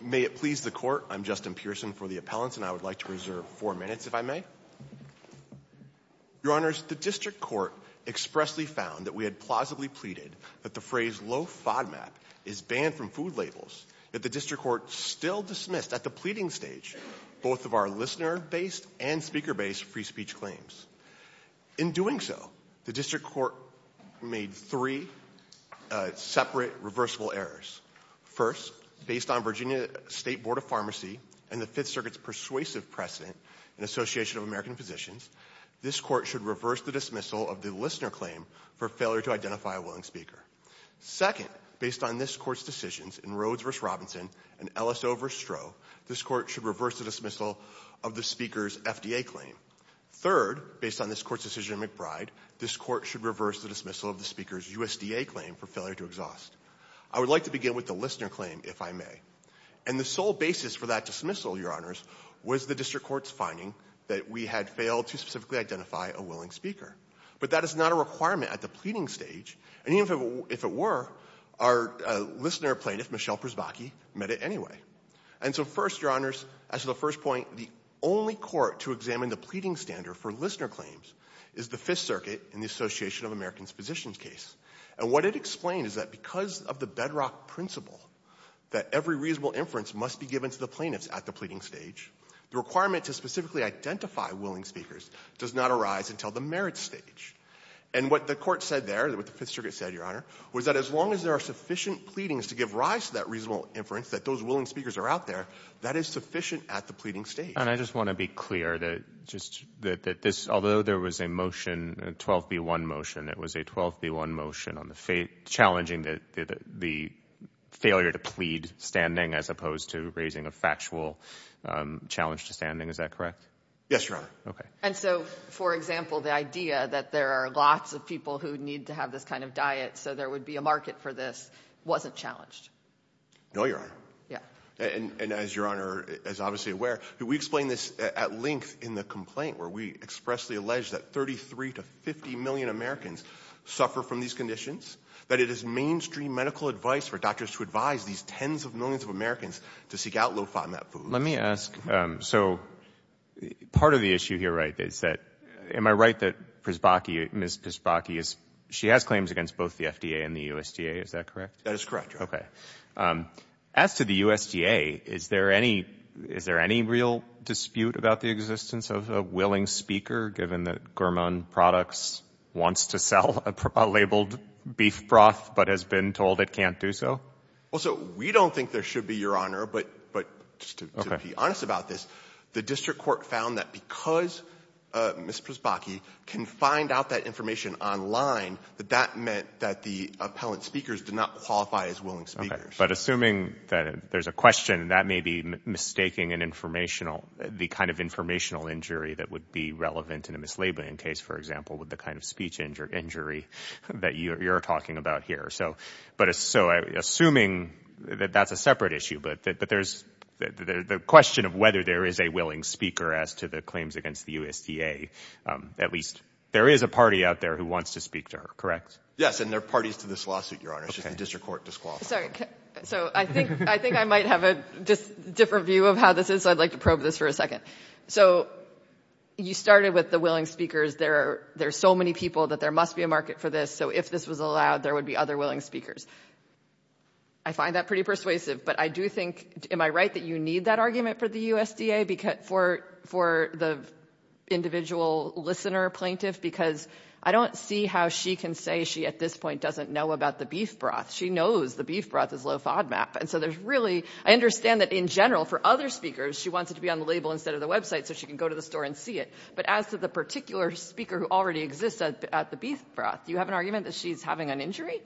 May it please the Court, I'm Justin Pearson for the Appellants, and I would like to reserve four minutes if I may. Your Honors, the District Court expressly found that we had plausibly pleaded that the phrase low FODMAP is banned from food labels, yet the District Court still dismissed at the pleading stage both of our listener-based and speaker-based free speech claims. In doing so, the District Court made three separate reversible errors. First, based on Virginia State Board of Pharmacy and the Fifth Circuit's persuasive precedent in Association of American Physicians, this Court should reverse the dismissal of the listener claim for failure to identify a willing speaker. Second, based on this Court's decisions in Rhodes v. Robinson and Ellis O. v. Stroh, this Court should reverse the dismissal of the speaker's FDA claim. Third, based on this Court's decision in McBride, this Court should reverse the dismissal of the speaker's USDA claim for failure to exhaust. I would like to begin with the listener claim, if I may. And the sole basis for that dismissal, Your Honors, was the District Court's finding that we had failed to specifically identify a willing speaker. But that is not a requirement at the pleading stage, and even if it were, our listener plaintiff, Michelle Prisbachi, met it anyway. And so first, Your Honors, as to the first point, the only court to examine the pleading standard for listener claims is the Fifth Circuit in the Association of American Physicians case. And what it explained is that because of the bedrock principle that every reasonable inference must be given to the plaintiffs at the pleading stage, the requirement to specifically identify willing speakers does not arise until the merits stage. And what the Court said there, what the Fifth Circuit said, Your Honor, was that as long as there are sufficient pleadings to give rise to that reasonable inference that those willing speakers are out there, that is sufficient at the pleading stage. And I just want to be clear that just that this, although there was a motion, a 12B1 motion, it was a 12B1 motion on the challenging the failure to plead standing as opposed to raising a factual challenge to standing. Is that correct? Yes, Your Honor. And so, for example, the idea that there are lots of people who need to have this kind of diet so there would be a market for this wasn't challenged. No, Your Honor. And as Your Honor is obviously aware, we explained this at length in the complaint where we expressly alleged that 33 to 50 million Americans suffer from these conditions, that it is mainstream medical advice for doctors to advise these tens of millions of Americans to seek out low FODMAP foods. Let me ask so, part of the issue here, right, is that, am I right that Ms. Przybocki, she has claims against both the FDA and the USDA, is that correct? That is correct, Your Honor. Okay. As to the USDA, is there any real dispute about the existence of a willing speaker given that Gurman Products wants to sell a labeled beef broth but has been told it can't do so? Well, so, we don't think there should be, Your Honor, but just to be honest about this, the district court found that because Ms. Przybocki can find out that information online that that meant that the appellant speakers did not qualify as willing speakers. Okay. But assuming that there's a question, that may be mistaking an informational, the kind of informational injury that would be relevant in a mislabeling case, for example, with the kind of speech injury that you're talking about here. So, assuming that that's a separate issue, but there's, the question of whether there is a willing speaker as to the claims against the USDA, at least there is a party out there who wants to speak to her, correct? Yes, and there are parties to this lawsuit, Your Honor, it's just the district court disqualified. Sorry, so I think I might have a different view of how this is, so I'd like to probe this for a second. So, you started with the willing speakers, there are so many people that there must be a market for this, so if this was allowed, there would be other willing speakers. I find that pretty persuasive, but I do think, am I right that you need that argument for the USDA, for the individual listener plaintiff? Because I don't see how she can say she, at this point, doesn't know about the beef broth. She knows the beef broth is low FODMAP, and so there's really, I understand that in general, for other speakers she wants it to be on the label instead of the website so she can go to the store and see it, but as to the particular speaker who already exists at the beef broth, do you have an argument that she's having an injury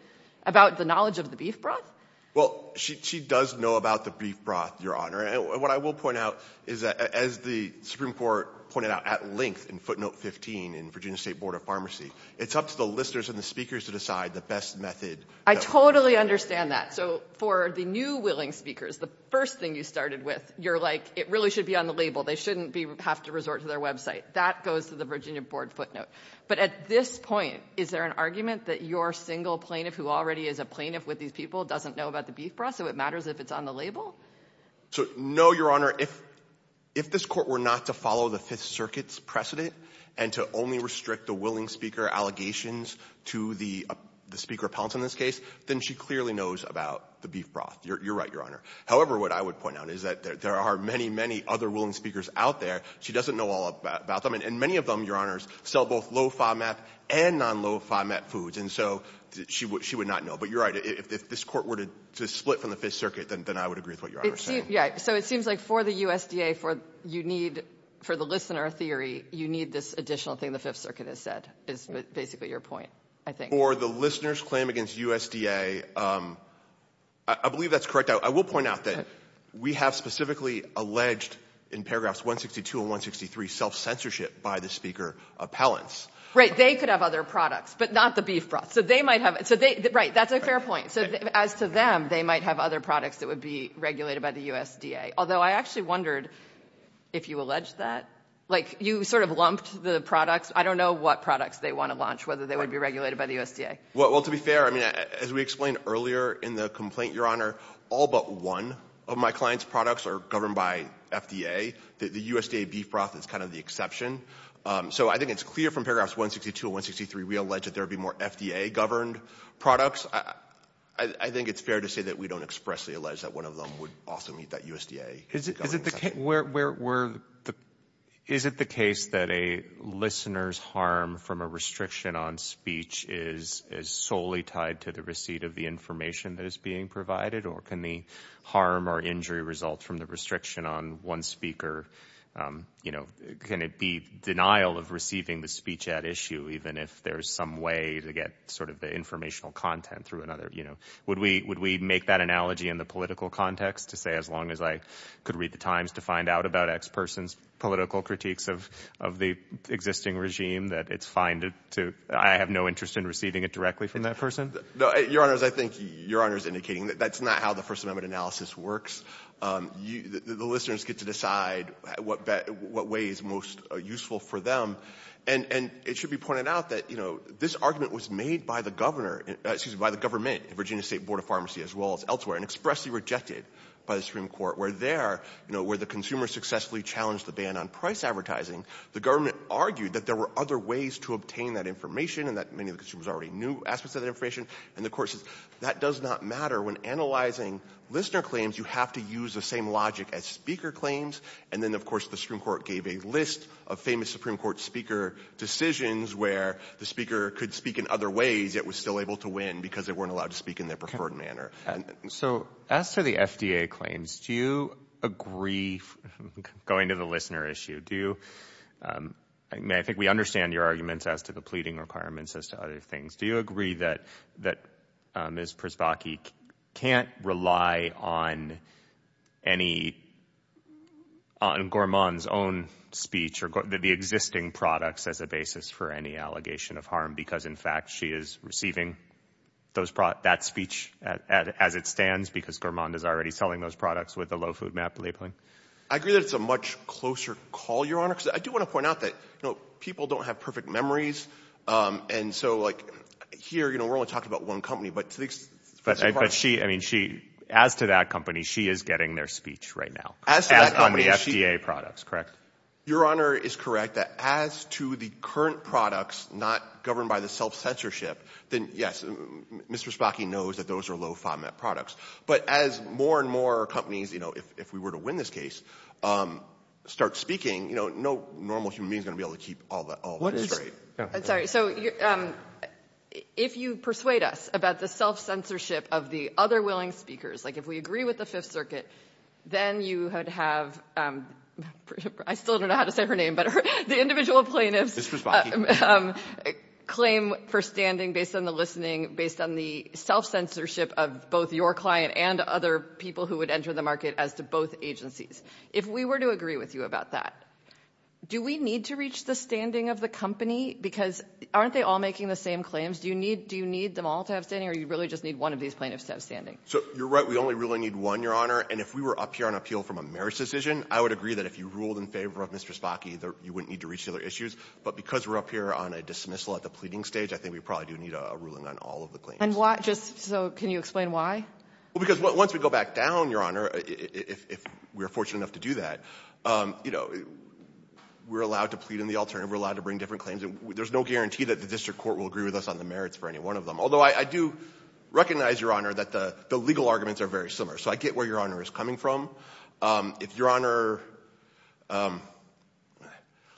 about the knowledge of the beef broth? Well, she does know about the beef broth, Your Honor, and what I will point out is that as the Supreme Court pointed out at length in footnote 15 in Virginia State Board of Pharmacy, it's up to the listeners and the speakers to decide the best method. I totally understand that. So for the new willing speakers, the first thing you started with, you're like, it really should be on the label. They shouldn't have to resort to their website. That goes to the Virginia Board footnote. But at this point, is there an argument that your single plaintiff who already is a plaintiff with these people doesn't know about the beef broth, so it matters if it's on the label? No, Your Honor. If this Court were not to follow the Fifth Circuit's precedent and to only restrict the willing speaker allegations to the speaker repellents in this case, then she clearly knows about the beef broth. You're right, Your Honor. However, what I would point out is that there are many, many other willing speakers out there. She doesn't know all about them, and many of them, Your Honors, sell both low FOMAP and non-low FOMAP foods, and so she would not know. But you're right. If this Court were to split from the Fifth Circuit, then I would agree with what Your Honor is saying. So it seems like for the USDA, for the listener theory, you need this additional thing the Fifth Circuit has said, is basically your point, I think. For the listener's claim against USDA, I believe that's correct. I will point out that we have specifically alleged in paragraphs 162 and 163 self-censorship by the speaker repellents. Right, they could have other products, but not the beef broth. Right, that's a fair point. As to them, they might have other products that would be regulated by the USDA, although I actually wondered if you alleged that? You sort of lumped the products. I don't know what products they want to launch, whether they would be regulated by the USDA. Well, to be fair, as we explained earlier in the complaint, Your Honor, all but one of my clients products are governed by FDA. The USDA beef broth is kind of the exception. So I think it's clear from paragraphs 162 and 163, we allege that there would be more FDA-governed products. I think it's fair to say that we don't expressly allege that one of them would also meet that USDA Is it the case that a listener's harm from a restriction on speech is solely tied to the receipt of the information that is being provided, or can the harm or injury result from the restriction on one speaker be denial of receiving the speech at issue, even if there's some way to get the informational content through another? Would we make that analogy in the political context to say, as long as I could read the Times to find out about X person's political critiques of the existing regime, that it's fine to I have no interest in receiving it directly from that person? Your Honor, that's not how the First Amendment analysis works. The listeners get to decide what way is most useful for them. And it should be pointed out that this argument was made by the government, the Virginia State Board of Pharmacy, as well as elsewhere, and expressly rejected by the Supreme Court, where the consumer successfully challenged the ban on price advertising. The government argued that there were other ways to obtain that information, and that many of the consumers already knew aspects of that information. And the Court says, that does not matter. When analyzing listener claims, you have to use the same logic as speaker claims. And then, of course, the Supreme Court gave a list of famous Supreme Court speaker decisions where the speaker could speak in other ways, yet was still able to win because they weren't allowed to speak in their preferred manner. So, as to the FDA claims, do you agree, going to the listener issue, do you, I mean, I think we understand your arguments as to the pleading requirements as to other things. Do you agree that Ms. Przybocki can't rely on any, on Gorman's own speech, or the existing products as a basis for any allegation of harm, because in fact, she is receiving that speech as it stands, because Gorman is already selling those products with the low food map labeling? I agree that it's a much closer call, Your Honor, because I do want to point out that, you know, people don't have perfect memories, and so, like, here, you know, we're only talking about one company, but to the extent, as to that company, she is getting their speech right now. As to that company, she, on the FDA products, correct? Your Honor is correct, that as to the current products not governed by the self-censorship, then, yes, Ms. Przybocki knows that those are low FODMAP products, but as more and more companies, you know, if we were to win this case, start speaking, you know, no normal human being is going to be able to keep all that straight. I'm sorry, so, if you persuade us about the self-censorship of the other willing speakers, like if we agree with the Fifth Circuit, then you would have, I still don't know how to say her name, but the individual plaintiffs claim for standing based on the listening, based on the self-censorship of both your client and other people who would enter the market as to both agencies. If we were to agree with you about that, do we need to reach the standing of the company? Because aren't they all making the same claims? Do you need them all to have standing, or do you really just need one of these plaintiffs to have standing? So, you're right, we only really need one, Your Honor, and if we were up here on appeal from a marriage decision, I would agree that if you ruled in favor of Ms. Przybocki, you wouldn't need to reach the other issues, but because we're up here on a dismissal at the pleading stage, I think we probably do need a ruling on all of the claims. And why, just so, can you explain why? Well, because once we go back down, Your Honor, if we're fortunate enough to do that, you know, we're allowed to plead in the alternative, we're allowed to bring different claims, there's no guarantee that the district court will agree with us on the merits for any one of them, although I do recognize, Your Honor, that the legal arguments are very similar, so I get where Your Honor is coming from. If Your Honor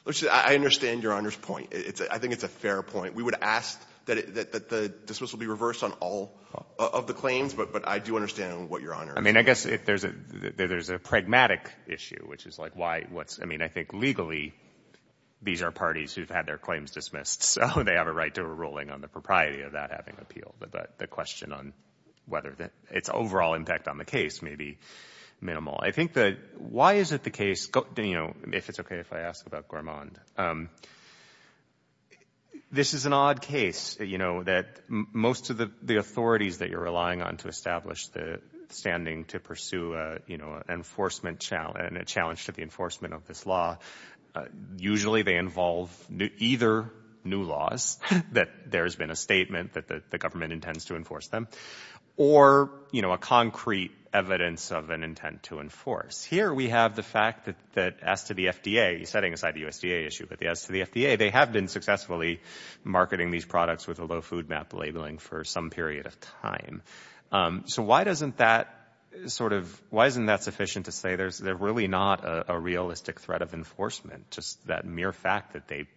let's see, I understand Your Honor's point. I think it's a fair point. We would ask that the dismissal be reversed on all of the claims, but I do understand what Your Honor is saying. I mean, I guess there's a pragmatic issue, which is like why, I mean, I think legally, these are parties who've had their claims dismissed, so they have a right to a ruling on the propriety of that having appealed, but the question on whether its overall impact on the case may be minimal. I think that why is it the case, you know, if it's okay if I ask about Gourmand, this is an odd case, you know, that most of the authorities that you're relying on to establish the standing to pursue, you know, an enforcement challenge, a challenge to the enforcement of this law, usually they involve either new laws, that there's been a statement that the government intends to enforce them, or, you know, a concrete evidence of an intent to enforce. Here we have the fact that as to the FDA, setting aside the USDA issue, but as to the FDA, they have been successfully marketing these products with a low food map labeling for some period of time. So why doesn't that sort of, why isn't that sufficient to say there's really not a realistic threat of enforcement, just that mere fact that they've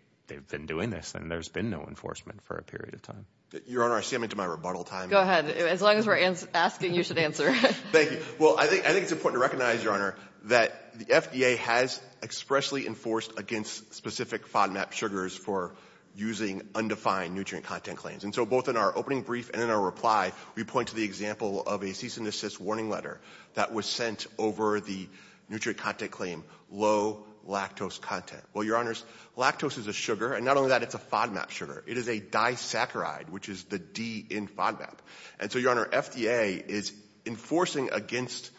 been doing this and there's been no enforcement for a period of time? Your Honor, I see I'm into my rebuttal time. Go ahead. As long as we're asking, you should answer. Thank you. Well, I think it's important to recognize, Your Honor, that the FDA has expressly enforced against specific FODMAP sugars for using undefined nutrient content claims. And so both in our opening brief and in our reply, we point to the example of a cease and desist warning letter that was sent over the nutrient content claim, low lactose content. Well, Your Honors, lactose is a sugar, and not only that, it's a FODMAP sugar. It is a disaccharide, which is the D in FODMAP. And so, Your Honor, FDA is enforcing against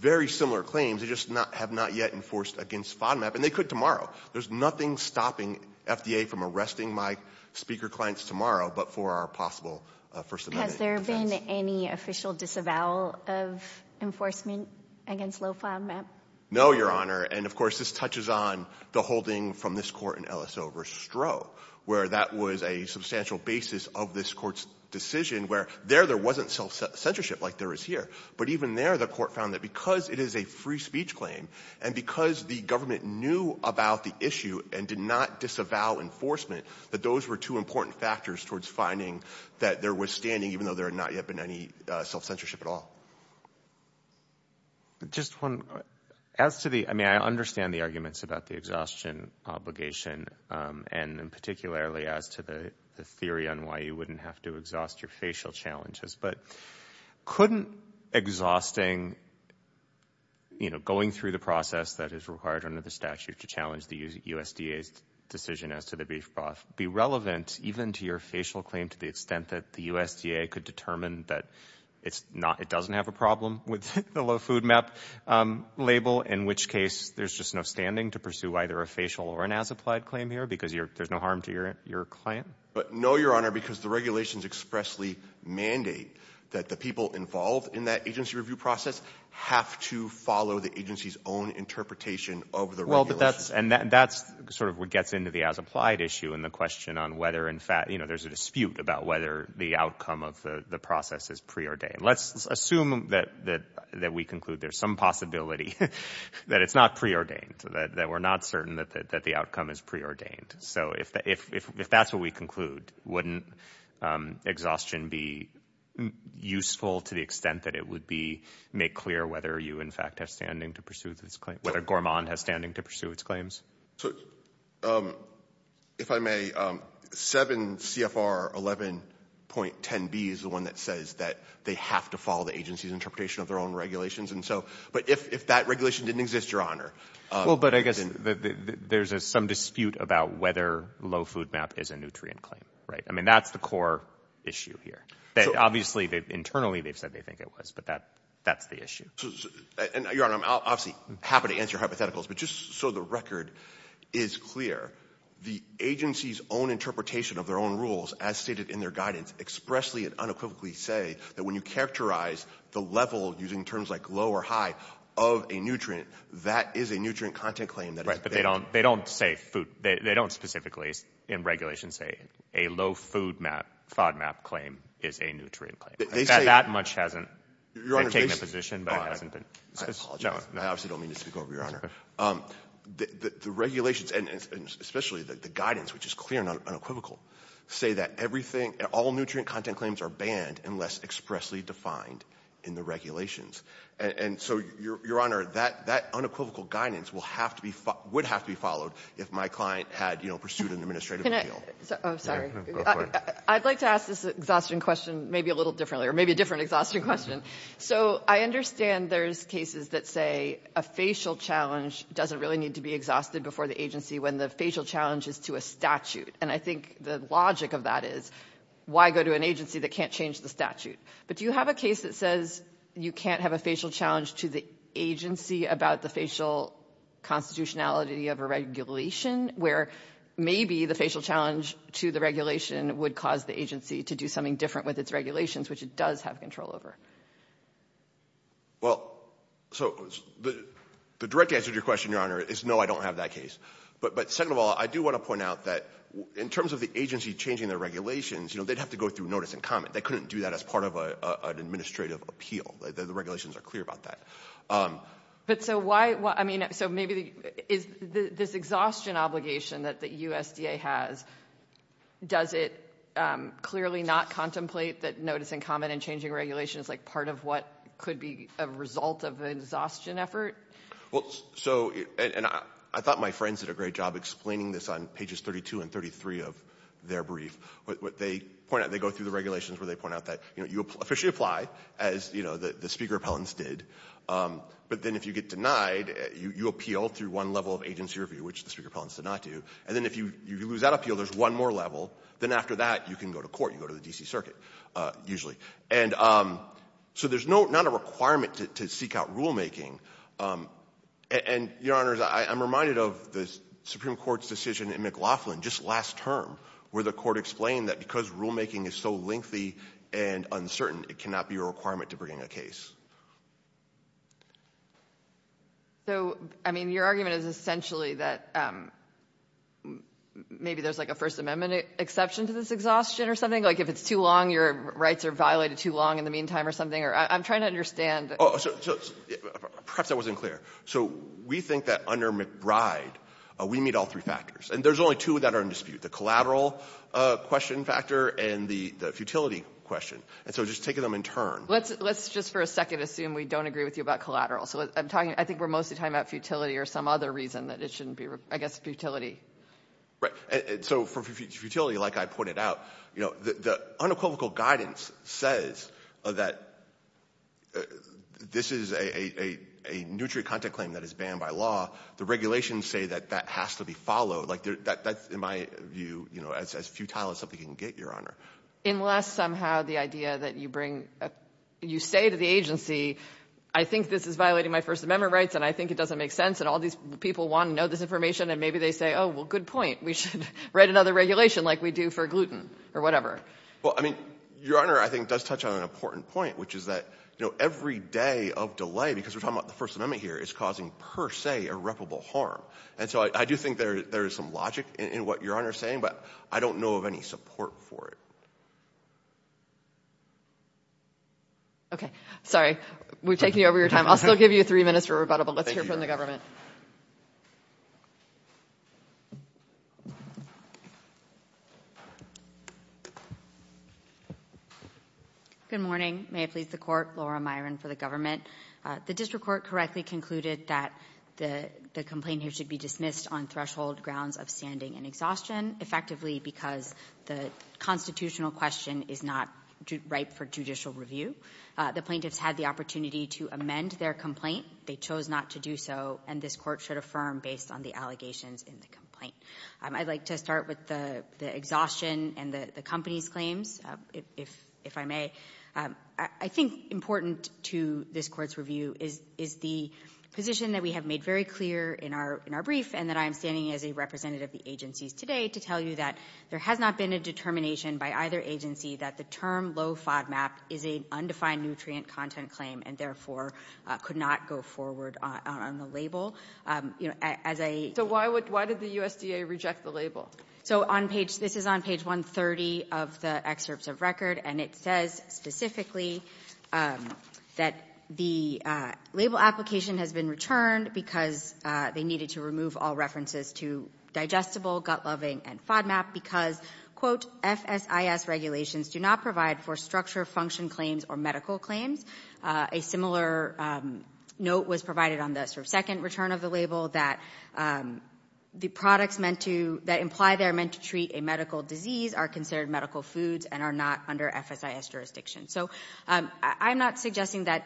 very similar claims. They just have not yet enforced against FODMAP, and they could tomorrow. There's nothing stopping FDA from arresting my speaker clients tomorrow but for our possible First Amendment defense. Has there been any official disavowal of enforcement against low FODMAP? No, Your Honor. And of course, this touches on the holding from this Court in Ellis over Stroh, where that was a substantial basis of this Court's decision, where there wasn't self-censorship like there is here. But even there, the Court found that because it is a free speech claim, and because the government knew about the issue and did not disavow enforcement, that those were two important factors towards finding that there was standing, even though there had not yet been any self-censorship at all. I understand the arguments about the exhaustion obligation, and particularly as to the theory on why you wouldn't have to exhaust your facial challenges. But couldn't exhausting, you know, going through the process that is required under the statute to challenge the USDA's decision as to the beef broth be relevant even to your facial claim to the extent that the USDA could determine that it doesn't have a problem with the low FODMAP label, in which case there's just no standing to pursue either a facial or an as-applied claim here because there's no harm to your client? No, Your Honor, because the regulations expressly mandate that the people involved in that agency review process have to follow the agency's own interpretation of the regulations. That's sort of what gets into the as-applied issue and the question on whether in fact there's a dispute about whether the outcome of the process is preordained. Let's assume that we conclude there's some possibility that it's not preordained, that we're not certain that the outcome is preordained. So if that's what we conclude, wouldn't exhaustion be useful to the extent that it would make clear whether you in fact have standing to pursue this claim, whether Gorman has standing to pursue its claims? If I may, 7 CFR 11.10b is the one that says that they have to follow the agency's interpretation of their own regulations. That regulation didn't exist, Your Honor. There's some dispute about whether low food map is a nutrient claim. That's the core issue here. Obviously, internally they've said they think it was, but that's the issue. I'm happy to answer hypotheticals, but just so the record is clear, the agency's own interpretation of their own rules as stated in their guidance expressly and unequivocally say that when you characterize the level using terms like low or high of a nutrient, that is a nutrient content claim. Right, but they don't specifically in regulation say a low food map, FODMAP claim is a nutrient claim. That much hasn't been taken into position. I apologize. I obviously don't mean to speak over you, Your Honor. The regulations, and especially the guidance, which is clear and unequivocal, say that all nutrient content claims are banned unless expressly defined in the regulations. So, Your Honor, that unequivocal guidance would have to be followed if my client had pursued an administrative appeal. I'd like to ask this exhaustion question maybe a little differently, or maybe a different exhaustion question. I understand there's cases that say a facial challenge doesn't really need to be exhausted before the agency when the facial challenge is to a statute, and I think the logic of that is why go to an agency that can't change the statute. But do you have a case that says you can't have a facial challenge to the agency about the facial constitutionality of a regulation, where maybe the facial challenge to the regulation would cause the agency to do something different with its regulations, which it does have control over? Well, the direct answer to your question, Your Honor, is no, I don't have that case. But second of all, I do want to point out that in terms of the agency changing their regulations, they'd have to go through notice and comment. They couldn't do that as part of an administrative appeal. The regulations are clear about that. So maybe this exhaustion obligation that USDA has, does it clearly not contemplate that notice and comment and changing regulations is part of what could be a result of an exhaustion effort? I thought my friends did a great job explaining this on pages 32 and 33 of their brief. What they point out, they go through the regulations where they point out that, you know, you officially apply, as, you know, the Speaker Appellants did, but then if you get denied, you appeal through one level of agency review, which the Speaker Appellants did not do. And then if you lose that appeal, there's one more level. Then after that, you can go to court. You go to the D.C. Circuit, usually. And so there's not a requirement to seek out rulemaking. And, Your Honors, I'm reminded of the Supreme Court's last term where the Court explained that because rulemaking is so lengthy and uncertain, it cannot be a requirement to bring a case. So, I mean, your argument is essentially that maybe there's like a First Amendment exception to this exhaustion or something? Like if it's too long, your rights are violated too long in the meantime or something? I'm trying to understand. Perhaps that wasn't clear. So we think that under McBride, we meet all three factors. And there's only two that are in dispute, the collateral question factor and the futility question. And so just taking them in turn. Let's just for a second assume we don't agree with you about collateral. So I'm talking, I think we're mostly talking about futility or some other reason that it shouldn't be, I guess, futility. So for futility, like I pointed out, you know, the unequivocal guidance says that this is a nutrient content claim that is banned by law. The regulations say that that has to be followed. Like that's, in my view, you know, as futile as something can get, Your Honor. Unless somehow the idea that you bring, you say to the agency, I think this is violating my First Amendment rights and I think it doesn't make sense and all these people want to know this information and maybe they say, oh, well, good point. We should write another regulation like we do for gluten or whatever. Well, I mean, Your Honor, I think it does touch on an important point, which is that, you know, every day of delay, because we're talking about the First Amendment here, is causing per se irreparable harm. And so I do think there is some logic in what Your Honor is saying, but I don't know of any support for it. Okay. Sorry. We've taken you over your time. I'll still give you three minutes for rebuttal, but let's hear from the government. Good morning. May it please the Court. Laura Myron for the government. The district court correctly concluded that the complaint here should be dismissed on threshold grounds of standing and exhaustion, effectively because the constitutional question is not ripe for judicial review. The plaintiffs had the opportunity to amend their complaint. They chose not to do so, and this court should affirm based on the allegations in the complaint. I'd like to start with the exhaustion and the company's claims, if I may. I think important to this Court's review is the position that we have made very clear in our brief, and that I am standing as a representative of the agencies today to tell you that there has not been a determination by either agency that the term low FODMAP is an undefined nutrient content claim, and therefore could not go forward on the label. You know, as a — So why did the USDA reject the label? So on page — this is on page 130 of the excerpts of record, and it says specifically that the label application has been returned because they needed to remove all references to digestible, gut-loving, and FODMAP because, quote, FSIS regulations do not provide for structure function claims or medical claims. A similar note was provided on the sort of second return of the label that the products meant to — that imply they are meant to treat a medical disease are considered medical foods and are not under FSIS jurisdiction. So I'm not suggesting that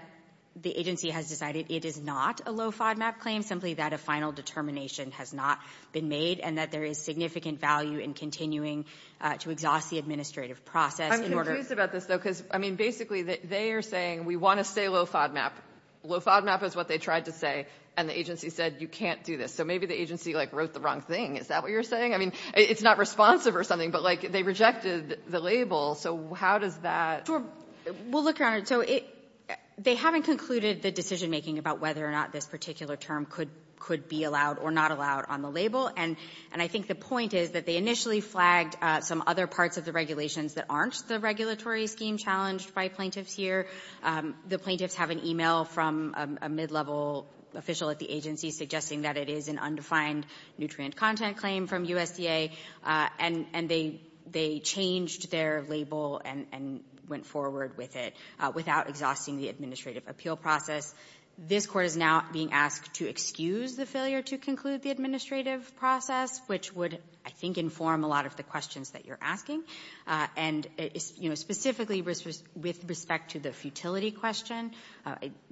the agency has decided it is not a low FODMAP claim, simply that a final determination has not been made, and that there is significant value in continuing to exhaust the administrative process in order — I'm confused about this, though, because, I mean, basically they are saying we want to stay low FODMAP. Low FODMAP is what they tried to say, and the agency said you can't do this. So maybe the agency, like, wrote the wrong thing. Is that what you're saying? I mean, it's not responsive or something, but, like, they rejected the label. So how does that — Well, look, Your Honor, so it — they haven't concluded the decision-making about whether or not this particular term could — could be allowed or not allowed on the label, and I think the point is that they initially flagged some other parts of the regulations that aren't the regulatory scheme challenged by plaintiffs here. The plaintiffs have an e-mail from a mid-level official at the agency suggesting that it is an undefined nutrient content claim from USDA, and they — they changed their label and went forward with it without exhausting the administrative appeal process. This Court is now being asked to excuse the failure to conclude the administrative process, which would, I think, inform a lot of the questions that you're asking, and, you know, specifically with respect to the futility question,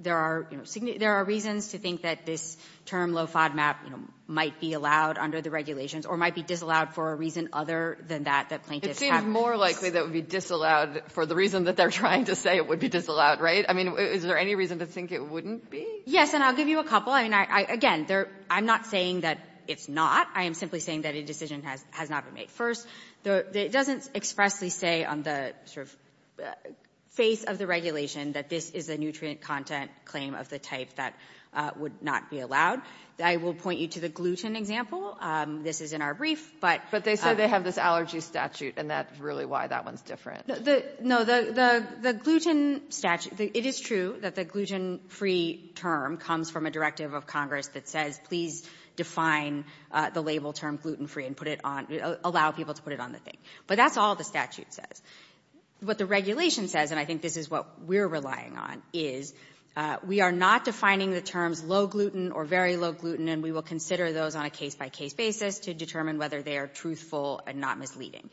there are — there are reasons to think that this term low FODMAP, you know, might be allowed under the regulations or might be disallowed for a reason other than that, that plaintiffs have — It seems more likely that it would be disallowed for the reason that they're trying to say it would be disallowed, right? I mean, is there any reason to think it wouldn't be? Yes, and I'll give you a couple. I mean, again, I'm not saying that it's not. I am simply saying that a decision has not been made. First, it doesn't expressly say on the sort of face of the regulation that this is a nutrient content claim of the type that would not be allowed. I will point you to the gluten example. This is in our brief, but — But they say they have this allergy statute, and that's really why that one's different. No. The gluten statute — it is true that the gluten-free term comes from a directive of Congress that says please define the label term gluten-free and put it on — allow people to put it on the thing. But that's all the statute says. What the regulation says, and I think this is what we're relying on, is we are not defining the terms low-gluten or very low-gluten, and we will consider those on a case-by-case basis to determine whether they are truthful and not misleading.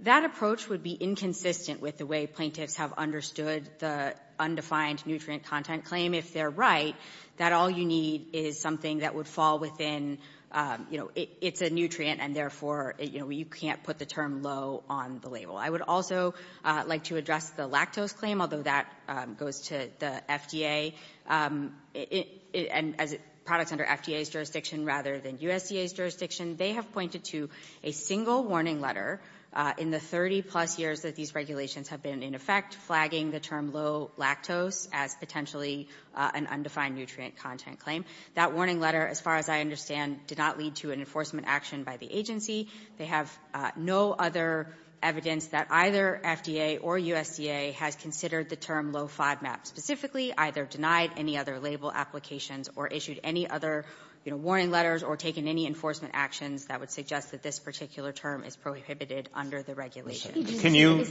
That approach would be inconsistent with the way plaintiffs have understood the undefined nutrient content claim. If they're right, that all you need is something that would fall within — you know, it's a nutrient, and therefore, you know, you would also like to address the lactose claim, although that goes to the FDA. And as products under FDA's jurisdiction rather than USDA's jurisdiction, they have pointed to a single warning letter in the 30-plus years that these regulations have been in effect flagging the term low-lactose as potentially an undefined nutrient content claim. That warning letter, as far as I understand, did not lead to an enforcement action by the agency. They have no other evidence that either FDA or USDA has considered the term low-FODMAP specifically, either denied any other label applications or issued any other, you know, warning letters or taken any enforcement actions that would suggest that this particular term is prohibited under the regulation. Roberts.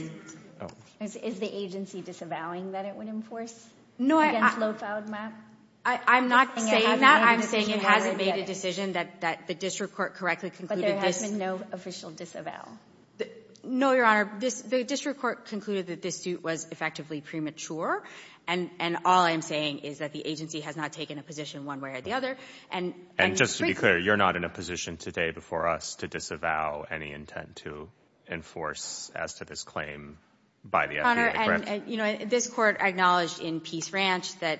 Is the agency disavowing that it would enforce against low-FODMAP? I'm not saying that. I'm saying it hasn't made a decision that the district court correctly concluded this. But there has been no official disavow. No, Your Honor. The district court concluded that this suit was effectively premature, and all I'm saying is that the agency has not taken a position one way or the other. And — And just to be clear, you're not in a position today before us to disavow any intent to enforce as to this claim by the FDA, correct? You know, this court acknowledged in Peace Ranch that,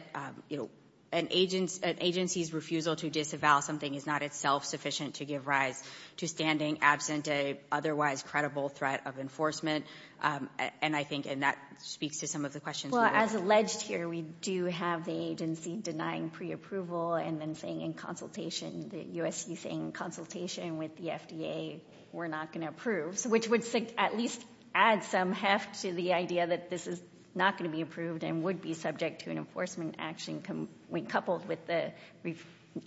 you know, an agency's refusal to disavow something is not itself sufficient to give rise to standing absent a otherwise credible threat of enforcement. And I think — and that speaks to some of the questions — Well, as alleged here, we do have the agency denying preapproval and then saying in consultation, the U.S.C. saying in consultation with the FDA, we're not going to approve, which would at least add some heft to the idea that this is not going to be approved and would be subject to an enforcement action when coupled with the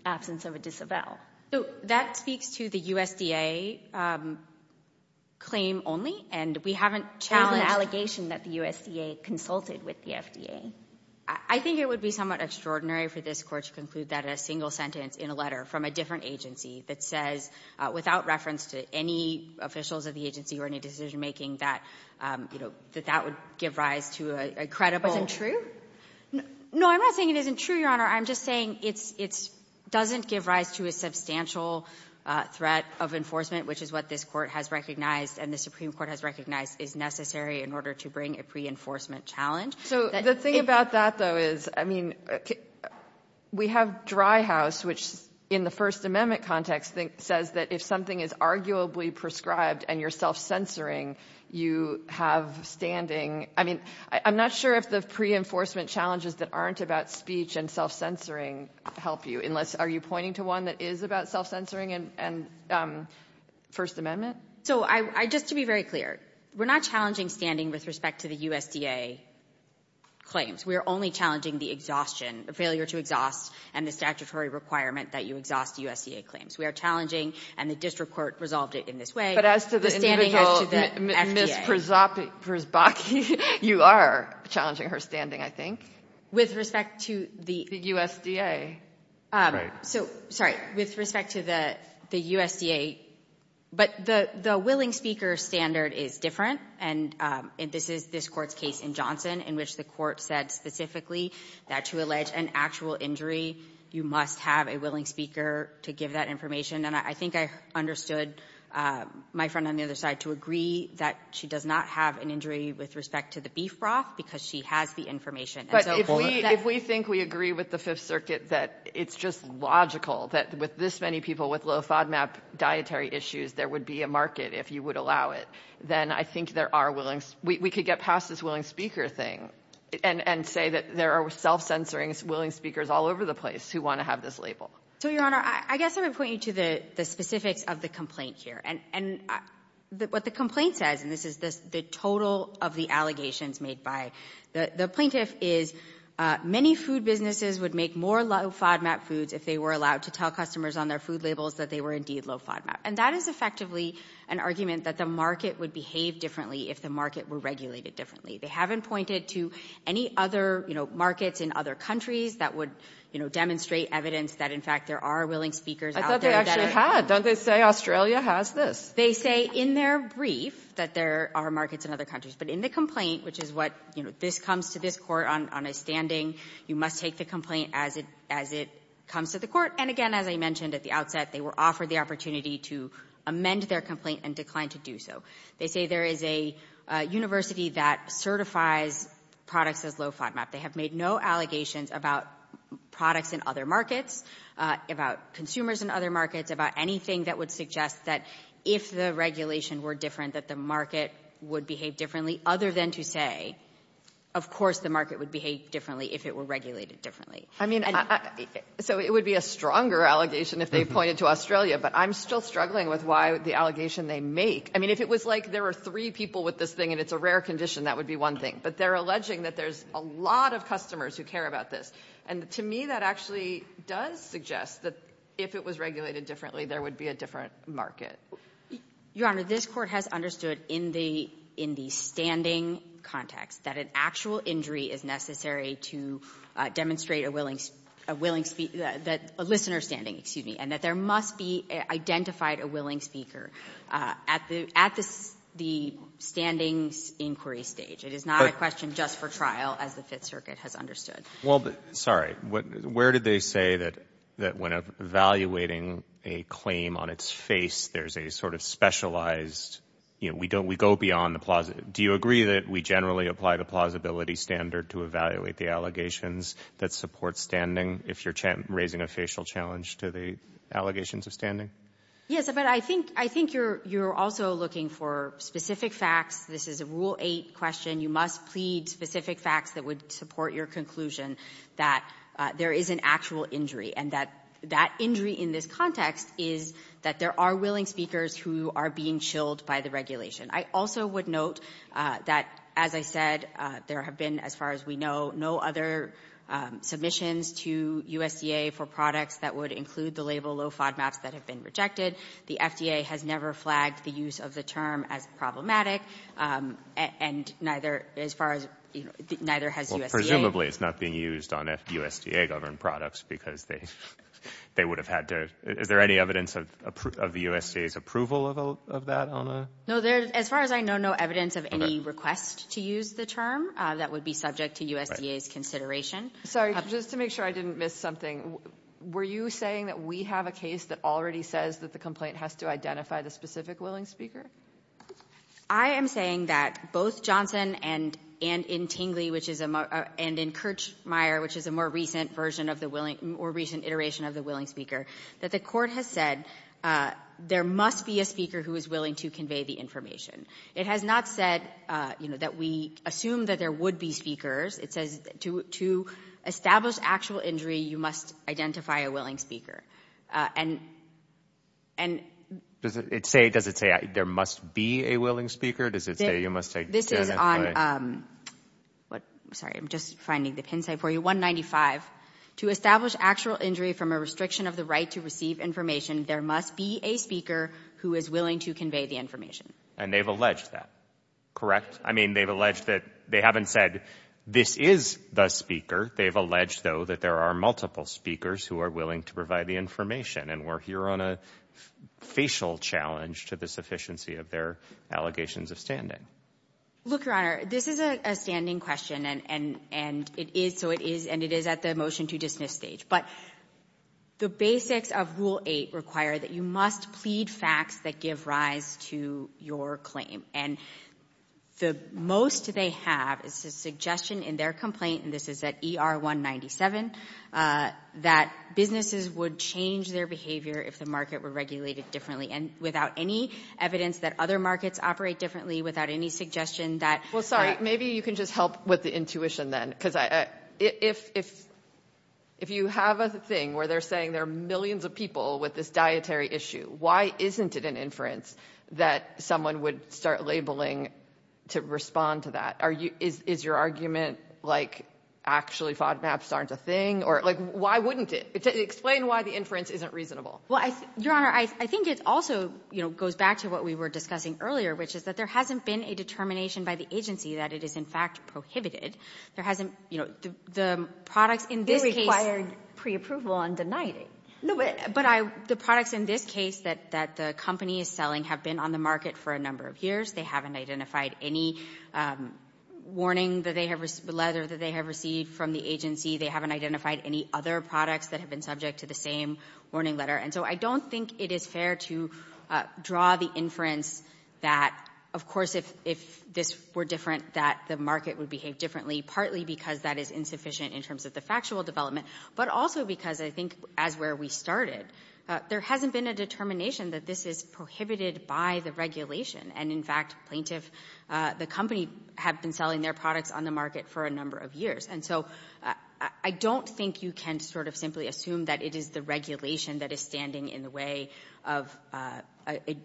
absence of a disavow. That speaks to the USDA claim only, and we haven't challenged — There's an allegation that the USDA consulted with the FDA. I think it would be somewhat extraordinary for this court to conclude that in a single sentence in a letter from a different agency that says, without reference to any officials of the agency or any decision-making, that, you know, that that would give rise to a credible — Isn't true? No, I'm not saying it isn't true, Your Honor. I'm just saying it's — it doesn't give rise to a substantial threat of enforcement, which is what this Court has recognized and the Supreme Court has recognized is necessary in order to bring a pre-enforcement challenge. So the thing about that, though, is, I mean, we have Dry House, which in the First Amendment is arguably prescribed, and you're self-censoring. You have standing. I mean, I'm not sure if the pre-enforcement challenges that aren't about speech and self-censoring help you, unless — are you pointing to one that is about self-censoring and First Amendment? So I — just to be very clear, we're not challenging standing with respect to the USDA claims. We are only challenging the exhaustion — the failure to exhaust and the statutory requirement that you exhaust USDA claims. We are challenging, and the district court resolved it in this way, the standing But as to the individual, Ms. Przbocki, you are challenging her standing, I think. With respect to the — The USDA. Right. So — sorry. With respect to the USDA — but the — the willing speaker standard is different, and this is this Court's case in Johnson, in which the Court said specifically that to allege an actual injury, you must have a willing speaker to give that information. And I think I understood my friend on the other side to agree that she does not have an injury with respect to the beef broth because she has the information. And so — But if we — if we think we agree with the Fifth Circuit that it's just logical that with this many people with low FODMAP dietary issues, there would be a market if you would allow it, then I think there are willing — we could get past this there are self-censoring willing speakers all over the place who want to have this label. So, Your Honor, I guess I would point you to the specifics of the complaint here. And what the complaint says, and this is the total of the allegations made by the plaintiff, is many food businesses would make more low FODMAP foods if they were allowed to tell customers on their food labels that they were indeed low FODMAP. And that is effectively an argument that the market would behave differently if the market were regulated differently. They haven't pointed to any other, you know, markets in other countries that would, you know, demonstrate evidence that, in fact, there are willing speakers out there that are — I thought they actually had. Don't they say Australia has this? They say in their brief that there are markets in other countries. But in the complaint, which is what — you know, this comes to this Court on a standing, you must take the complaint as it — as it comes to the Court. And, again, as I mentioned at the outset, they were offered the opportunity to amend their complaint and declined to do so. They say there is a university that certifies products as low FODMAP. They have made no allegations about products in other markets, about consumers in other markets, about anything that would suggest that if the regulation were different, that the market would behave differently, other than to say, of course the market would behave differently if it were regulated differently. I mean, so it would be a stronger allegation if they pointed to Australia. But I'm still struggling with why the allegation they make — I mean, if it was like there were three people with this thing and it's a rare condition, that would be one thing. But they're alleging that there's a lot of customers who care about this. And to me, that actually does suggest that if it was regulated differently, there would be a different market. Your Honor, this Court has understood in the — in the standing context that an actual injury is necessary to demonstrate a willing — a willing — that — a listener standing, excuse me, and that there must be identified a willing speaker at the — at the standing inquiry stage. It is not a question just for trial, as the Fifth Circuit has understood. Well, sorry. Where did they say that when evaluating a claim on its face, there's a sort of specialized — you know, we go beyond the — do you agree that we generally apply the plausibility standard to evaluate the allegations that support standing if you're raising a facial challenge to the allegations of standing? Yes, but I think — I think you're — you're also looking for specific facts. This is a Rule 8 question. You must plead specific facts that would support your conclusion that there is an actual injury and that — that injury in this context is that there are willing speakers who are being chilled by the regulation. I also would note that, as I said, there have been, as far as we know, no other submissions to USDA for products that would include the label low FODMAPs that have been rejected. The FDA has never flagged the use of the term as problematic, and neither — as far as — neither has USDA. Well, presumably, it's not being used on USDA-governed products because they would have had to — is there any evidence of the USDA's approval of that on a — No, there — as far as I know, no evidence of any request to use the term that would be subject to USDA's consideration. Sorry, just to make sure I didn't miss something, were you saying that we have a willingness speaker? Somebody says that the complaint has to identify the specific willing speaker? I am saying that both Johnson and — and in Tingley, which is a — and in Kirchmeier, which is a more recent version of the willing — more recent iteration of the willing speaker, that the Court has said there must be a speaker who is willing to convey the information. It has not said, you know, that we assume that there would be speakers. It says to establish actual injury, you must identify a willing speaker. And — and — Does it say — does it say there must be a willing speaker? Does it say you must identify — This is on — sorry, I'm just finding the pin site for you — 195. To establish actual injury from a restriction of the right to receive information, there must be a speaker who is willing to convey the information. And they've alleged that, correct? I mean, they've alleged that — they haven't said this is the speaker. They've alleged, though, that there are multiple speakers who are willing to provide the information, and we're here on a facial challenge to the sufficiency of their allegations of standing. Look, Your Honor, this is a standing question, and — and it is — so it is — and it is at the motion to dismiss stage. But the basics of Rule 8 require that you must plead facts that give rise to your claim, and the most they have is a suggestion in their complaint — and this is at would change their behavior if the market were regulated differently, and without any evidence that other markets operate differently, without any suggestion that — Well, sorry, maybe you can just help with the intuition then, because I — if — if you have a thing where they're saying there are millions of people with this dietary issue, why isn't it an inference that someone would start labeling to respond to that? Are you — is your argument, like, actually FODMAPs aren't a thing, or — like, why wouldn't it? Explain why the inference isn't reasonable. Well, I — Your Honor, I think it also, you know, goes back to what we were discussing earlier, which is that there hasn't been a determination by the agency that it is, in fact, prohibited. There hasn't — you know, the products in this case — They required preapproval and denied it. No, but I — the products in this case that — that the company is selling have been on the market for a number of years. They haven't identified any warning that they have — the letter that they have received from the agency. They haven't identified any other products that have been subject to the same warning letter. And so I don't think it is fair to draw the inference that, of course, if — if this were different, that the market would behave differently, partly because that is insufficient in terms of the factual development, but also because I think, as where we started, there hasn't been a determination that this is prohibited by the regulation. And, in fact, plaintiff — the company had been selling their products on the market for a number of years. And so I don't think you can sort of simply assume that it is the regulation that is standing in the way of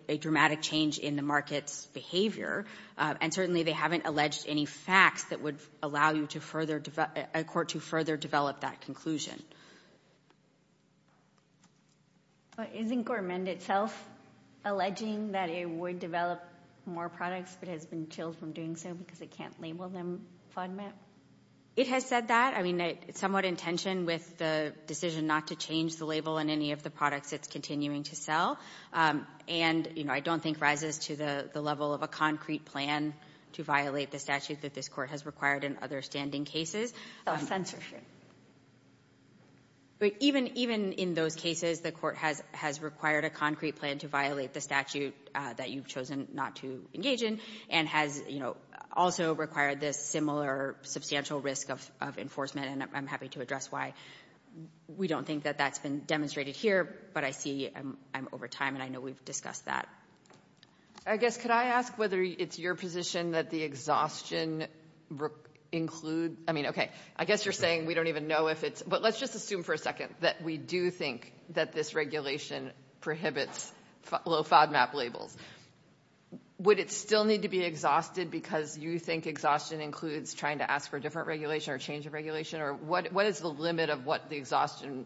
a dramatic change in the market's behavior. And certainly they haven't alleged any facts that would allow you to further — a court to further develop that conclusion. But isn't Gormand itself alleging that it would develop more products, but has been chilled from doing so because it can't label them FODMAP? It has said that. I mean, it's somewhat in tension with the decision not to change the label on any of the products it's continuing to sell. And, you know, I don't think rises to the level of a concrete plan to violate the statute that this court has required in other standing cases. Oh, censorship. Even in those cases, the court has required a concrete plan to violate the statute that you've chosen not to engage in and has, you know, also required this similar substantial risk of enforcement. And I'm happy to address why we don't think that that's been demonstrated here. But I see I'm over time, and I know we've discussed that. I guess could I ask whether it's your position that the exhaustion include — I mean, okay, I guess you're saying we don't even know if it's — but let's just assume for a second that we do think that this regulation prohibits low FODMAP labels. Would it still need to be exhausted because you think exhaustion includes trying to ask for a different regulation or change of regulation? Or what is the limit of what the exhaustion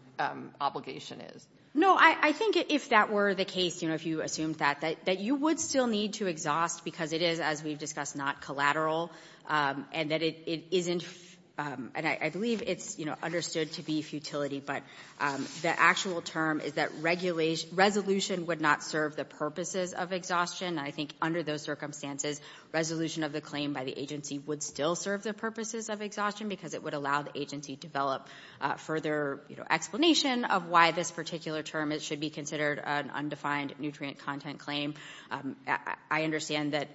obligation is? No. I think if that were the case, you know, if you assumed that, that you would still need to exhaust because it is, as we've discussed, not collateral and that it isn't — and I believe it's, you know, understood to be futility. But the actual term is that regulation — resolution would not serve the purposes of exhaustion, and I think under those circumstances, resolution of the claim by the agency would still serve the purposes of exhaustion because it would allow the agency to develop further, you know, explanation of why this particular term should be considered an undefined nutrient content claim. I understand that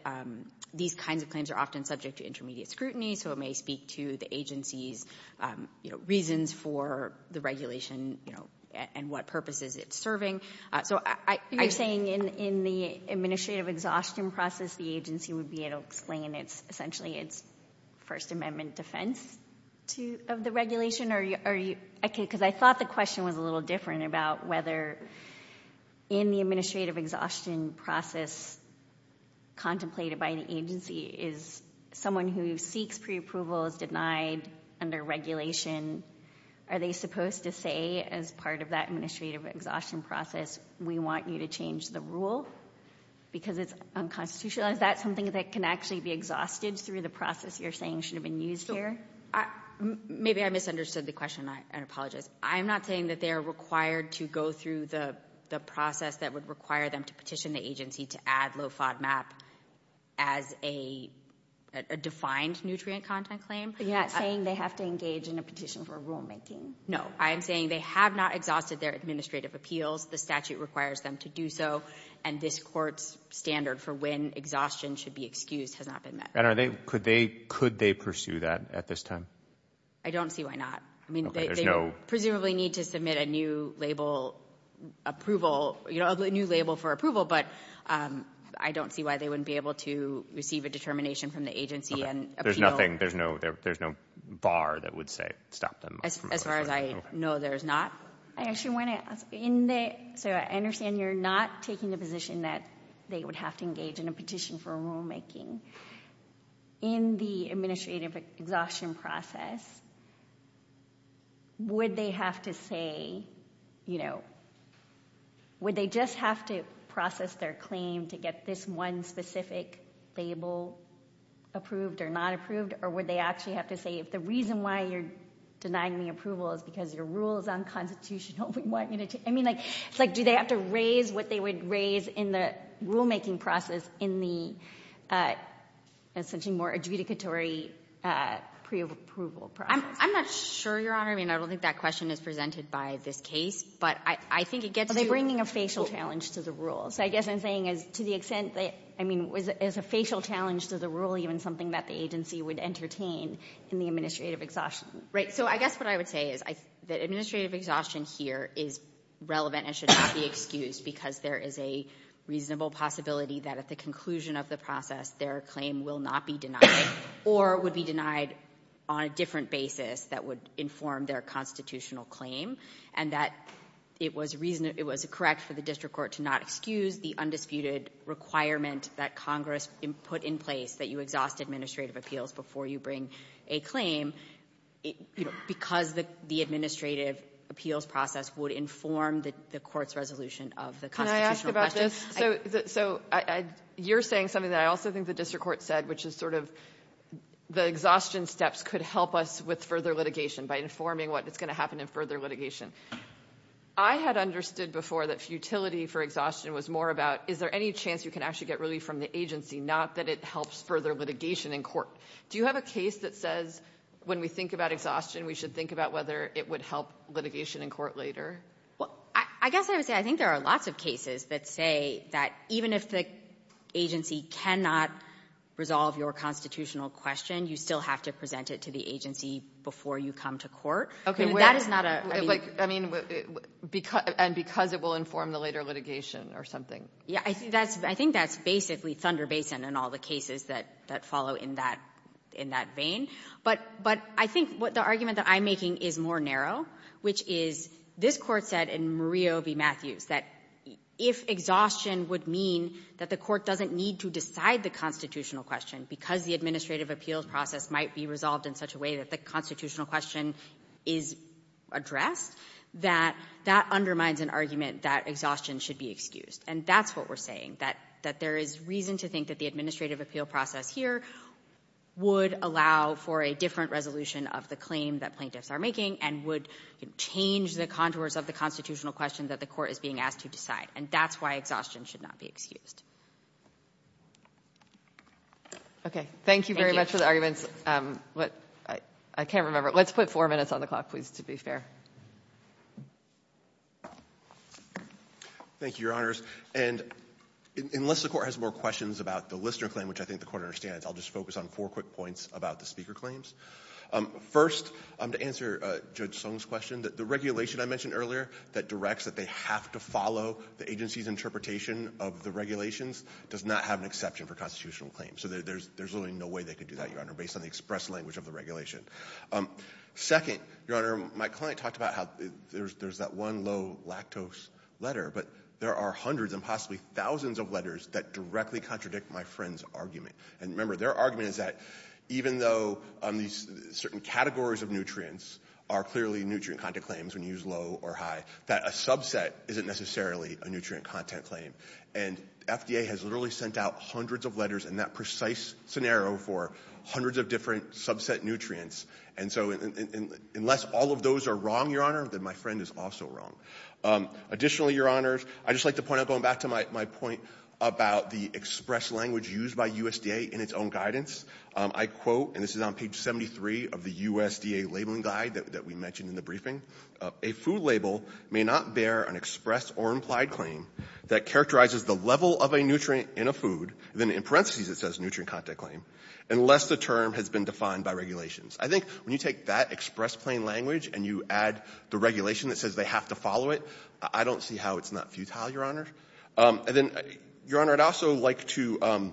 these kinds of claims are often subject to intermediate scrutiny, so it may speak to the agency's, you know, reasons for the regulation, you know, and what purposes it's serving. You're saying in the administrative exhaustion process, the agency would be able to explain essentially its First Amendment defense of the regulation? Because I thought the question was a little different about whether in the administrative exhaustion process contemplated by the agency is someone who seeks preapproval is denied under regulation. Are they supposed to say as part of that administrative exhaustion process, we want you to change the rule because it's unconstitutional? Is that something that can actually be exhausted through the process you're saying should have been used here? Maybe I misunderstood the question, and I apologize. I'm not saying that they are required to go through the process that would require them to petition the agency to add low FODMAP as a defined nutrient content claim. You're not saying they have to engage in a petition for rulemaking? No. I am saying they have not exhausted their administrative appeals. The statute requires them to do so, and this Court's standard for when exhaustion should be excused has not been met. And could they pursue that at this time? I don't see why not. I mean, they presumably need to submit a new label approval, you know, a new label for approval, but I don't see why they wouldn't be able to receive a determination from the agency and appeal. There's no bar that would say stop them? As far as I know, there's not. I actually want to ask, so I understand you're not taking the position that they would have to engage in a petition for rulemaking. In the administrative exhaustion process, would they have to say, you know, or would they actually have to say if the reason why you're denying the approval is because your rule is unconstitutional? I mean, like, do they have to raise what they would raise in the rulemaking process in the essentially more adjudicatory preapproval process? I'm not sure, Your Honor. I mean, I don't think that question is presented by this case, but I think it gets to you. Are they bringing a facial challenge to the rule? So I guess I'm saying to the extent that, I mean, is a facial challenge to the rule even something that the agency would entertain in the administrative exhaustion? Right, so I guess what I would say is that administrative exhaustion here is relevant and should not be excused because there is a reasonable possibility that at the conclusion of the process their claim will not be denied or would be denied on a different basis that would inform their constitutional claim and that it was correct for the district court to not excuse the undisputed requirement that Congress put in place that you exhaust administrative appeals before you bring a claim because the administrative appeals process would inform the court's resolution of the constitutional question. Can I ask about this? So you're saying something that I also think the district court said, which is sort of the exhaustion steps could help us with further litigation by informing what is going to happen in further litigation. I had understood before that futility for exhaustion was more about is there any chance you can actually get relief from the agency, not that it helps further litigation in court. Do you have a case that says when we think about exhaustion we should think about whether it would help litigation in court later? Well, I guess I would say I think there are lots of cases that say that even if the agency cannot resolve your constitutional question, you still have to present it to the agency before you come to court. That is not a – I mean, and because it will inform the later litigation or something. I think that's basically thunder basin in all the cases that follow in that vein. But I think the argument that I'm making is more narrow, which is this Court said in Murillo v. Matthews that if exhaustion would mean that the court doesn't need to decide the constitutional question because the administrative appeals process might be resolved in such a way that the constitutional question is addressed, that that undermines an argument that exhaustion should be excused. And that's what we're saying, that there is reason to think that the administrative appeal process here would allow for a different resolution of the claim that plaintiffs are making and would change the contours of the constitutional question that the court is being asked to decide. And that's why exhaustion should not be excused. Okay. Thank you very much for the arguments. I can't remember. Let's put four minutes on the clock, please, to be fair. Thank you, Your Honors. And unless the Court has more questions about the Lister claim, which I think the Court understands, I'll just focus on four quick points about the speaker claims. First, to answer Judge Song's question, the regulation I mentioned earlier that directs that they have to follow the agency's interpretation of the regulations does not have an exception for constitutional claims. So there's really no way they could do that, Your Honor, based on the express language of the regulation. Second, Your Honor, my client talked about how there's that one low lactose letter, but there are hundreds and possibly thousands of letters that directly contradict my friend's argument. And remember, their argument is that even though these certain categories of nutrients are clearly nutrient content claims when you use low or high, that a subset isn't necessarily a nutrient content claim. And FDA has literally sent out hundreds of letters in that precise scenario for hundreds of different subset nutrients. And so unless all of those are wrong, Your Honor, then my friend is also wrong. Additionally, Your Honors, I'd just like to point out, going back to my point about the express language used by USDA in its own guidance, I quote, and this is on page 73 of the USDA labeling guide that we mentioned in the briefing, a food label may not bear an express or implied claim that characterizes the level of a nutrient in a food, then in parentheses it says nutrient content claim, unless the term has been defined by regulations. I think when you take that express plain language and you add the regulation that says they have to follow it, I don't see how it's not futile, Your Honor. And then, Your Honor, I'd also like to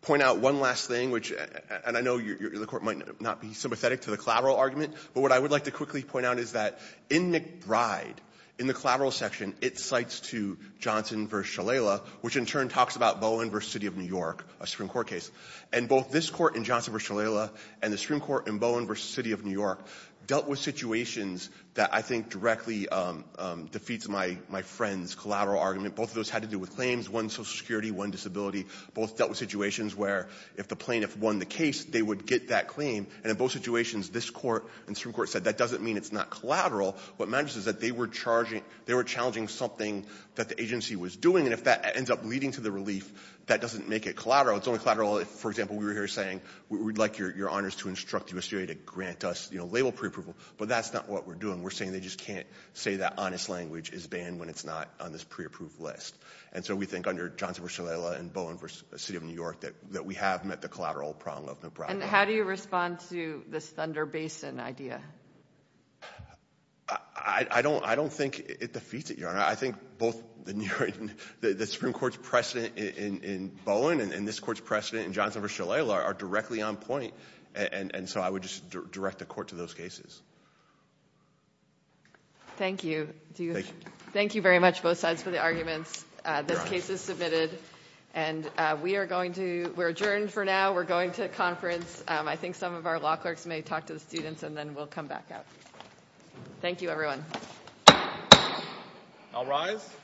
point out one last thing, which, and I know the court might not be sympathetic to the collateral argument, but what I would like to quickly point out is that in McBride, in the collateral section, it cites to Johnson v. Shalala, which in turn talks about Bowen v. City of New York, a Supreme Court case. And both this court in Johnson v. Shalala and the Supreme Court in Bowen v. City of New York dealt with situations that I think directly defeats my friend's collateral argument. Both of those had to do with claims, one social security, one disability. Both dealt with situations where if the plaintiff won the case, they would get that claim. And in both situations, this court and the Supreme Court said that doesn't mean it's not collateral. What matters is that they were charging, they were challenging something that the agency was doing. And if that ends up leading to the relief, that doesn't make it collateral. It's only collateral if, for example, we were here saying we would like Your Honors to instruct the USDA to grant us, you know, label preapproval, but that's not what we're doing. We're saying they just can't say that honest language is banned when it's not on this preapproved list. And so we think under Johnson v. Shalala and Bowen v. City of New York that we have met the collateral prong of Nebraska. And how do you respond to this Thunder Basin idea? I don't think it defeats it, Your Honor. I think both the Supreme Court's precedent in Bowen and this Court's precedent in Johnson v. Shalala are directly on point. And so I would just direct the Court to those cases. Thank you. Thank you. Thank you very much, both sides, for the arguments. This case is submitted. And we are adjourned for now. We're going to conference. I think some of our law clerks may talk to the students, and then we'll come back out. Thank you, everyone. I'll rise.